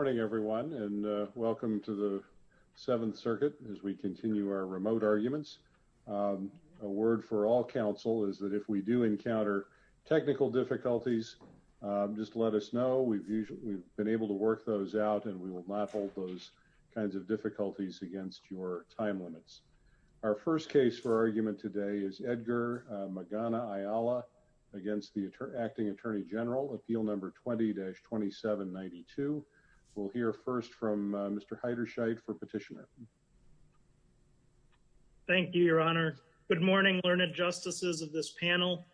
Good morning everyone and welcome to the 7th circuit as we continue our remote arguments. A word for all counsel is that if we do encounter technical difficulties, just let us know we've been able to work those out and we will not hold those kinds of difficulties against your time limits. Our first case for argument today is Edgar Magana Ayala against the acting Attorney General Appeal Number 20-2792. We'll hear first from Mr. Heiderscheid for petitioner. Thank you, your honor. Good morning learned justices of this panel.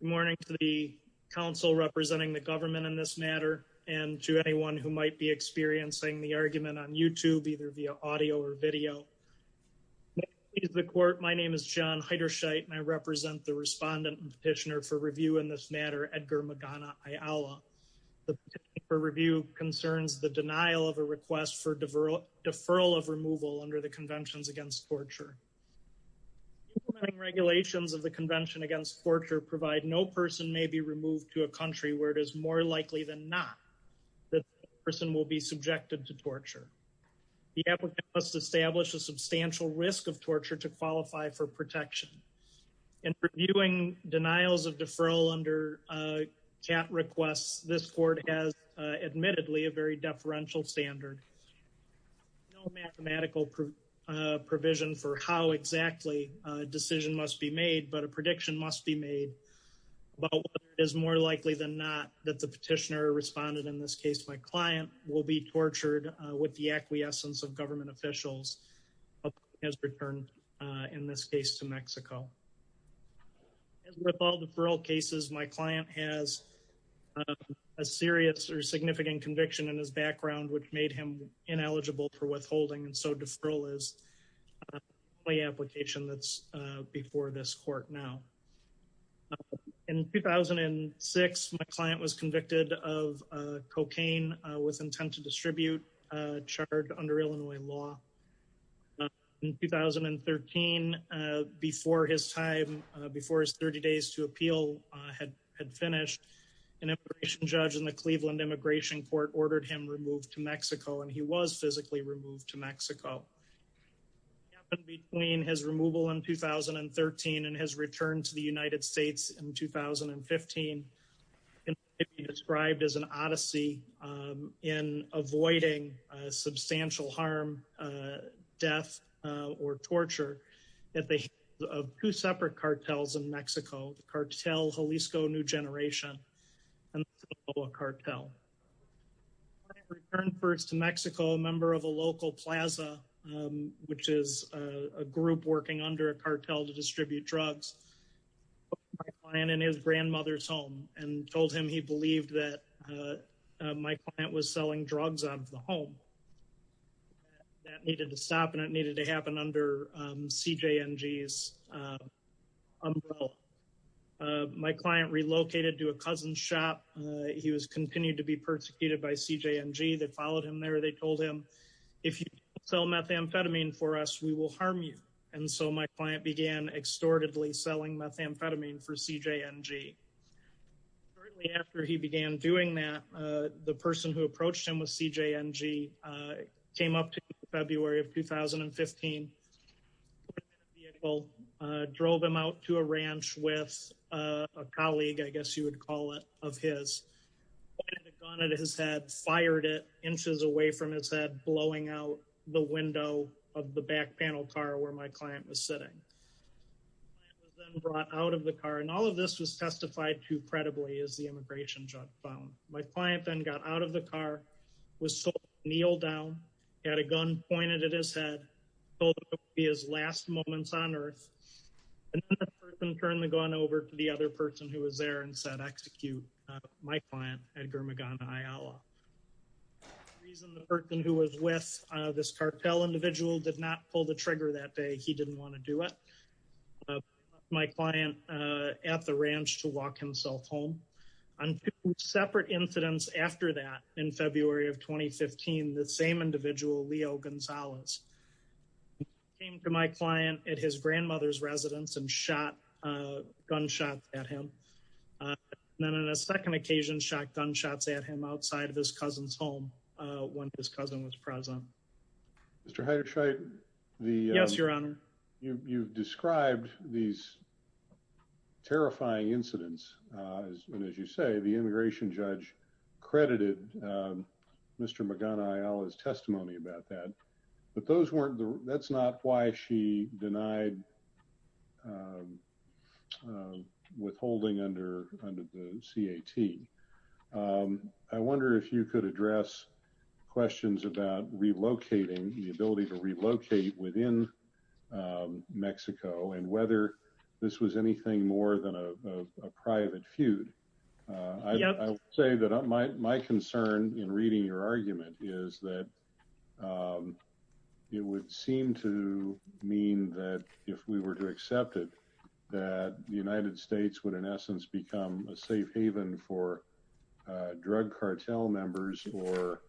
Good morning to the council representing the government in this matter and to anyone who might be experiencing the argument on YouTube either via audio or video. The court. My name is John Heiderscheid and I represent the respondent petitioner for review in this matter, Edgar Magana Ayala. The review concerns the denial of a request for deferral deferral of removal under the conventions against torture. Regulations of the convention against torture provide no person may be removed to a country where it is more likely than not that person will be subjected to torture. The applicant must establish a substantial risk of torture to qualify for protection and reviewing denials of deferral under chat requests. This court has admittedly a very deferential standard. No mathematical provision for how exactly a decision must be made, but a prediction must be made about what is more likely than not that the petitioner responded. In this case, my client will be tortured with the acquiescence of government officials as returned in this case to Mexico. With all the parole cases, my client has a serious or significant conviction in his background, which made him ineligible for withholding and so deferral is my application that's before this court now. In 2006 my client was convicted of cocaine with intent to distribute chart under Illinois law. In 2013 before his time before his 30 days to appeal had finished an immigration judge in the Cleveland immigration court ordered him removed to Mexico and he was physically removed to Mexico. Between his removal in 2013 and his return to the United States in 2015 described as an odyssey in avoiding substantial harm death or torture at the of two separate cartels in Mexico cartel Jalisco new generation and cartel. First to Mexico member of a local Plaza, which is a group working under a cartel to distribute drugs. And in his grandmother's home and told him he believed that. My client was selling drugs on the home. That needed to stop and it needed to happen under CJ NGS. My client relocated to a cousin shop. He was continued to be persecuted by CJ NG that followed him there. They told him if you sell methamphetamine for us, we will harm you. And so my client began extorted Lee selling methamphetamine for CJ NG. After he began doing that the person who approached him with CJ NG came up to February of 2015. Drove him out to a ranch with a colleague. I guess you would call it of his. Gone at his head fired it inches away from his head blowing out the window of the back panel car where my client was sitting. Brought out of the car and all of this was testified to credibly as the immigration judge found my client then got out of the car was so kneel down at a gun pointed at his head. Be his last moments on Earth. And turn the gun over to the other person who was there and said execute my client Edgar McGonagall. Reason the person who was with this cartel individual did not pull the trigger that day. He didn't want to do it. My client at the ranch to walk himself home on separate incidents after that in February of 2015 the same individual Leo Gonzalez. Came to my client at his grandmother's residence and shot gunshots at him. And then on a second occasion shot gunshots at him outside of his cousin's home when his cousin was present. Mr. Heidercheit. Yes, Your Honor. You've described these terrifying incidents as soon as you say the immigration judge credited Mr. McGonagall as testimony about that. But those weren't the that's not why she denied Withholding under under the CAT I wonder if you could address questions about relocating the ability to relocate within Mexico and whether this was anything more than a private feud. Say that my my concern in reading your argument is that It would seem to mean that if we were to accept it that the United States would, in essence, become a safe haven for drug cartel members or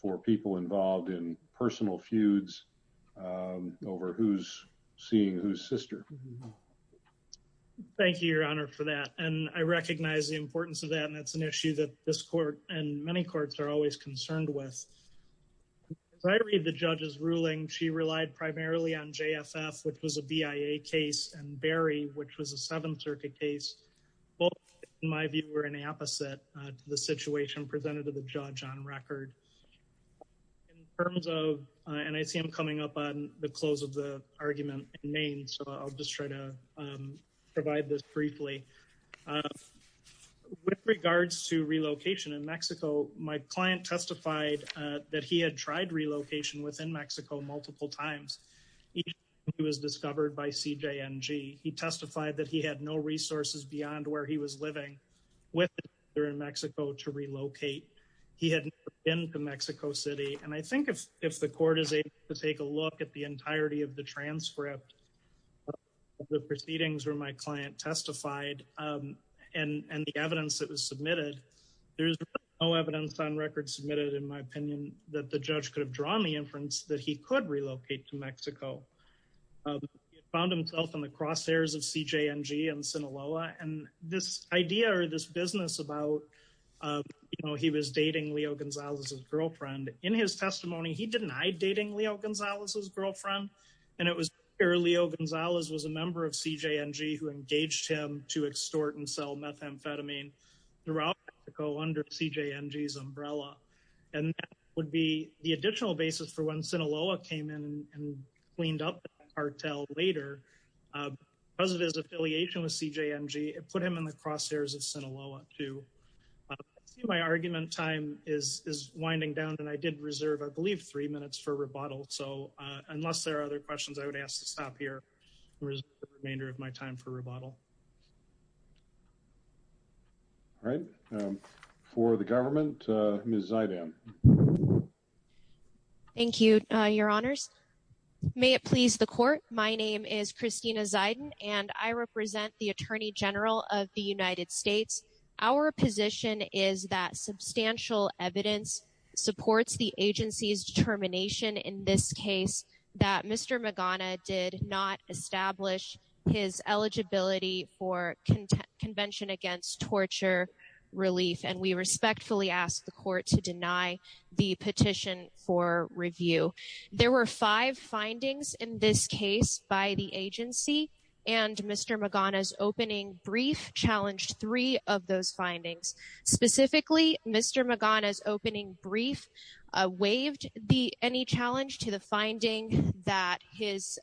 For people involved in personal feuds Over who's seeing who's sister. Thank you, Your Honor, for that. And I recognize the importance of that. And that's an issue that this court and many courts are always concerned with. As I read the judge's ruling. She relied primarily on JFF, which was a BIA case and Barry, which was a Seventh Circuit case. Well, my view were an opposite to the situation presented to the judge on record. In terms of, and I see I'm coming up on the close of the argument in Maine. So I'll just try to provide this briefly. With regards to relocation in Mexico. My client testified that he had tried relocation within Mexico multiple times. He was discovered by CJ NG. He testified that he had no resources beyond where he was living with there in Mexico to relocate he hadn't been to Mexico City. And I think if if the court is able to take a look at the entirety of the transcript. The proceedings where my client testified and the evidence that was submitted. There's no evidence on record submitted, in my opinion, that the judge could have drawn the inference that he could relocate to Mexico. Found himself in the crosshairs of CJ NG and Sinaloa and this idea or this business about, you know, he was dating Leo Gonzalez's girlfriend in his testimony. He denied dating Leo Gonzalez's girlfriend. And it was early. Oh, Gonzalez was a member of CJ NG who engaged him to extort and sell methamphetamine. Under CJ NG's umbrella. And that would be the additional basis for when Sinaloa came in and cleaned up the cartel later. Because of his affiliation with CJ NG, it put him in the crosshairs of Sinaloa too. My argument time is winding down and I did reserve, I believe, three minutes for rebuttal. So unless there are other questions, I would ask to stop here and reserve the remainder of my time for rebuttal. All right. For the government, Ms. Zayden. Thank you, Your Honors. May it please the court. My name is Christina Zayden and I represent the Attorney General of the United States. Our position is that substantial evidence supports the agency's determination in this case that Mr. Magana did not establish his eligibility for Convention Against Torture Relief. And we respectfully ask the court to deny the petition for review. There were five findings in this case by the agency and Mr. Magana's opening brief challenged three of those findings. Specifically, Mr. Magana's opening brief waived any challenge to the finding that his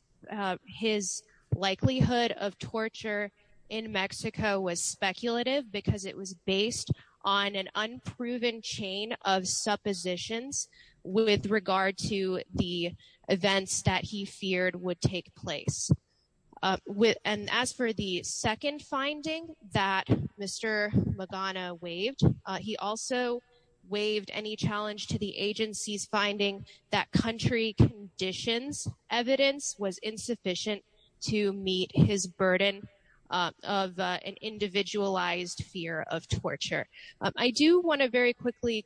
likelihood of torture in Mexico was speculative because it was based on an unproven chain of suppositions with regard to the events that he feared would take place. And as for the second finding that Mr. Magana waived, he also waived any challenge to the agency's finding that country conditions evidence was insufficient to meet his burden of an individualized fear of torture. I do want to very quickly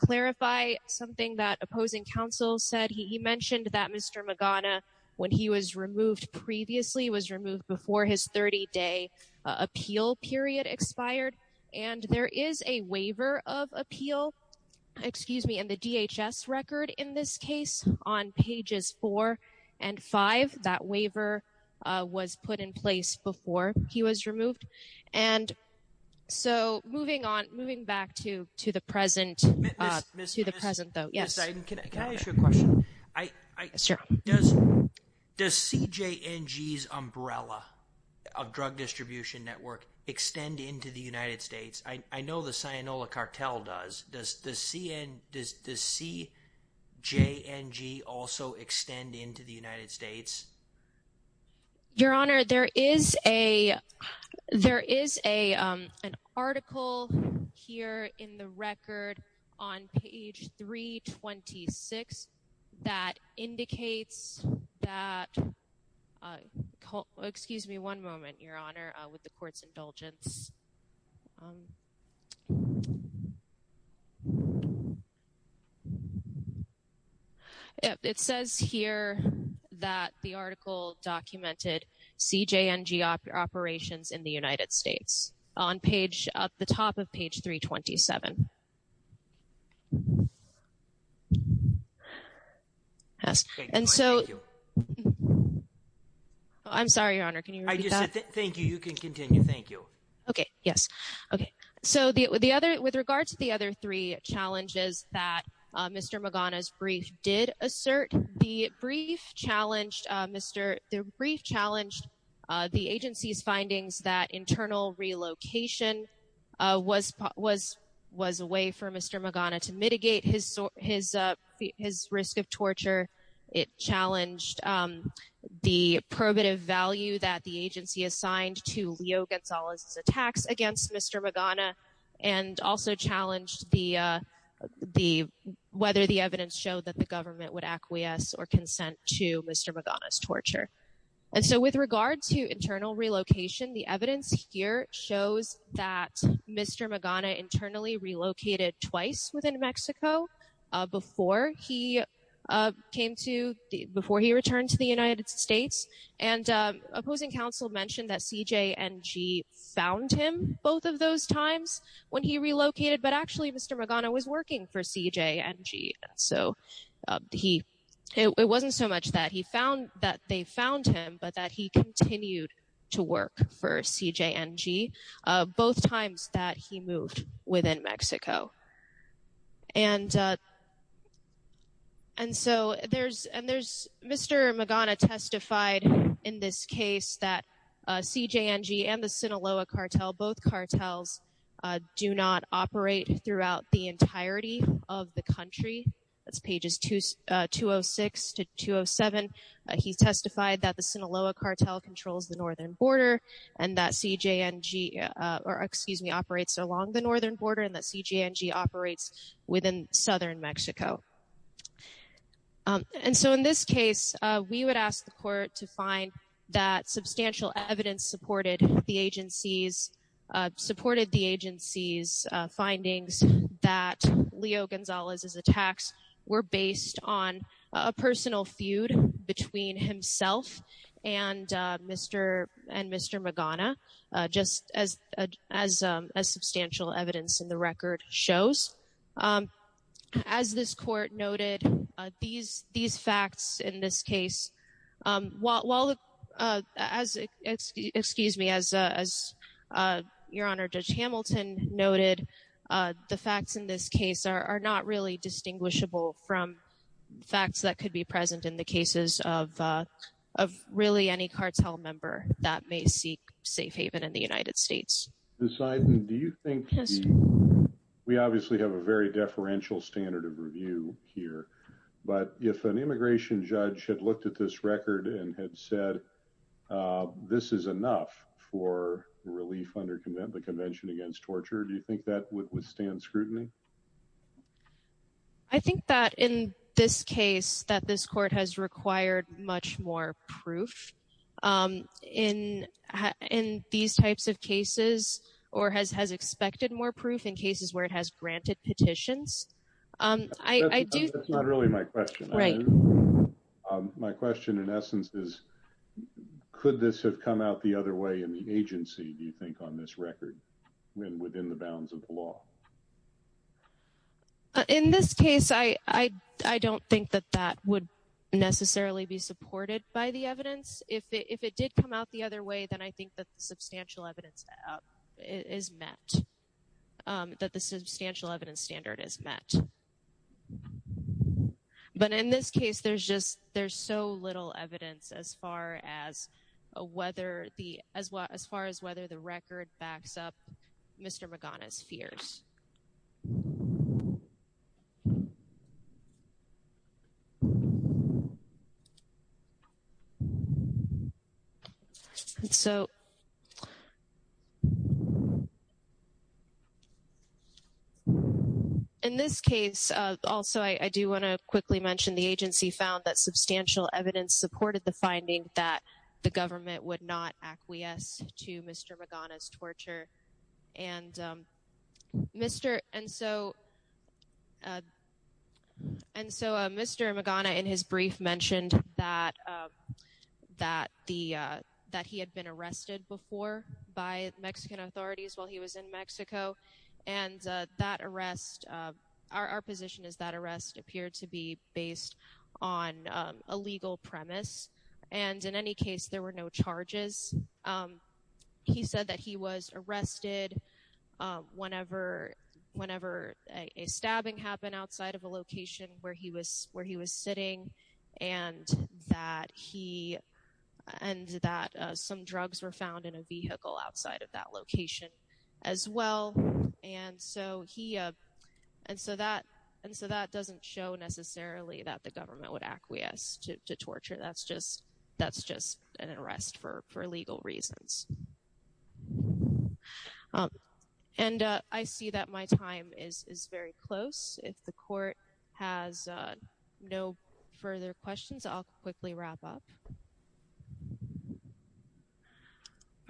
clarify something that opposing counsel said. He mentioned that Mr. Magana, when he was removed previously, was removed before his 30-day appeal period expired. And there is a waiver of appeal, excuse me, in the DHS record in this case on pages 4 and 5. That waiver was put in place before he was removed. And so moving on, moving back to the present, to the present though. Yes. Can I ask you a question? Sure. Does CJNG's umbrella of drug distribution network extend into the United States? I know the Cyanola Cartel does. Does CJNG also extend into the United States? Your Honor, there is an article here in the record on page 326 that indicates that, excuse me one moment, Your Honor, with the court's indulgence. It says here that the article documented CJNG operations in the United States on the top of page 327. Thank you. I'm sorry, Your Honor, can you repeat that? Thank you. You can continue. Thank you. Okay. Yes. Okay. So with regard to the other three challenges that Mr. Magana's brief did assert, the brief challenged the agency's findings that internal relocation was a way for Mr. Magana to mitigate his risk of torture. It challenged the probative value that the agency assigned to Leo Gonzalez's attacks against Mr. Magana and also challenged whether the evidence showed that the government would acquiesce or consent to Mr. Magana's torture. And so with regard to internal relocation, the evidence here shows that Mr. Magana internally relocated twice within Mexico before he returned to the United States. And opposing counsel mentioned that CJNG found him both of those times when he relocated, but actually Mr. Magana was working for CJNG. So he it wasn't so much that he found that they found him, but that he continued to work for CJNG both times that he moved within Mexico. And so there's Mr. Magana testified in this case that CJNG and the Sinaloa cartel, both cartels, do not operate throughout the entirety of the country. That's pages 206 to 207. He testified that the Sinaloa cartel controls the northern border and that CJNG, or excuse me, operates along the northern border and that CJNG operates within southern Mexico. And so in this case, we would ask the court to find that substantial evidence supported the agency's findings that Leo Gonzalez's attacks were based on a personal feud between himself and Mr. Magana, just as substantial evidence in the record shows. As this court noted, these facts in this case, while as, excuse me, as Your Honor, Judge Hamilton noted, the facts in this case are not really distinguishable from facts that could be present in the cases of really any cartel member that may seek safe haven in the United States. Ms. Ziden, do you think we obviously have a very deferential standard of review here, but if an immigration judge had looked at this record and had said, this is enough for relief under the Convention Against Torture, do you think that would withstand scrutiny? I think that in this case, that this court has required much more proof in these types of cases or has expected more proof in cases where it has granted petitions. That's not really my question. My question in essence is, could this have come out the other way in the agency, do you think, on this record within the bounds of the law? In this case, I don't think that that would necessarily be supported by the evidence. If it did come out the other way, then I think that the substantial evidence is met, that the substantial evidence standard is met. But in this case, there's so little evidence as far as whether the record backs up Mr. Magana's fears. In this case, also I do want to quickly mention the agency found that substantial evidence supported the finding that the government would not acquiesce to Mr. Magana's torture. And so Mr. Magana in his brief mentioned that he had been arrested before by Mexican authorities while he was in Mexico. And our position is that arrest appeared to be based on a legal premise. And in any case, there were no charges. He said that he was arrested whenever a stabbing happened outside of a location where he was sitting and that some drugs were found in a vehicle outside of that location as well. And so that doesn't show necessarily that the government would acquiesce to torture. That's just an arrest for legal reasons. And I see that my time is very close. If the court has no further questions, I'll quickly wrap up.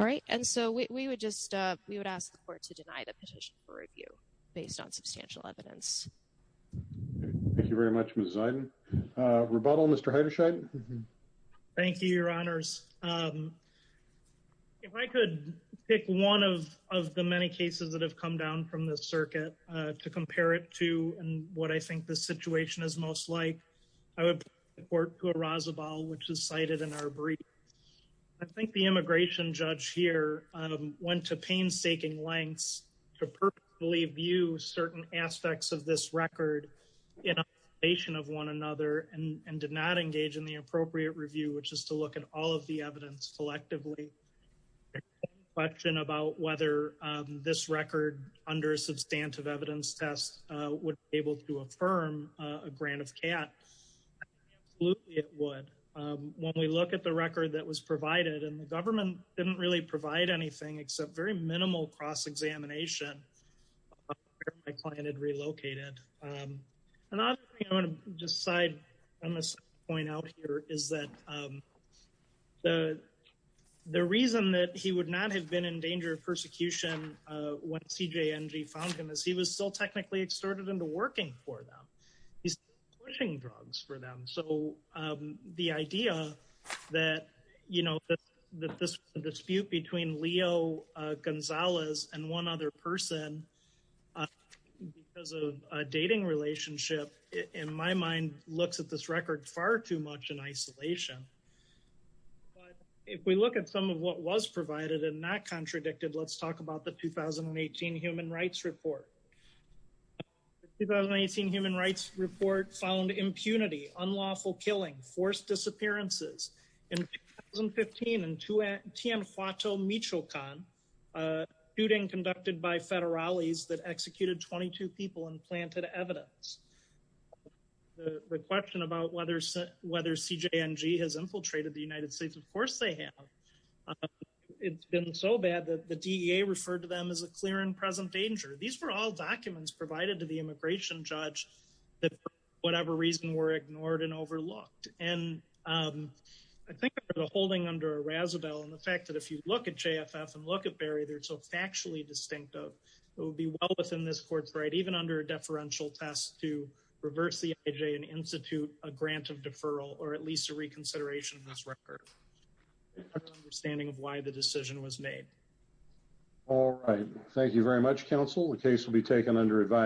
All right. And so we would just we would ask the court to deny the petition for review based on substantial evidence. Thank you very much. Rebuttal. Mr. Thank you, Your Honors. If I could pick one of the many cases that have come down from the circuit to compare it to and what I think the situation is most like, I would report to a Razabal, which is cited in our brief. I think the immigration judge here went to painstaking lengths to perfectly view certain aspects of this record in a nation of one another and did not engage in the appropriate review, which is to look at all of the evidence selectively. The question about whether this record under a substantive evidence test would be able to affirm a grant of CAT, absolutely it would. When we look at the record that was provided and the government didn't really provide anything except very minimal cross-examination where my client had relocated. And I want to decide on this point out here is that the reason that he would not have been in danger of persecution when CJ found him is he was still technically extorted into working for them. He's pushing drugs for them. So the idea that, you know, that this dispute between Leo Gonzalez and one other person because of a dating relationship, in my mind, looks at this record far too much in isolation. But if we look at some of what was provided and not contradicted, let's talk about the 2018 Human Rights Report. The 2018 Human Rights Report found impunity, unlawful killing, forced disappearances. In 2015, in Tien Huato Michoacan, a shooting conducted by federales that executed 22 people and planted evidence. The question about whether CJNG has infiltrated the United States, of course they have. It's been so bad that the DEA referred to them as a clear and present danger. These were all documents provided to the immigration judge that for whatever reason were ignored and overlooked. And I think the holding under a Razabelle and the fact that if you look at JFF and look at Barry, they're so factually distinctive. It would be well within this court's right, even under a deferential test, to reverse the IJ and institute a grant of deferral or at least a reconsideration of this record. Understanding of why the decision was made. All right. Thank you very much, counsel. The case will be taken under advisory.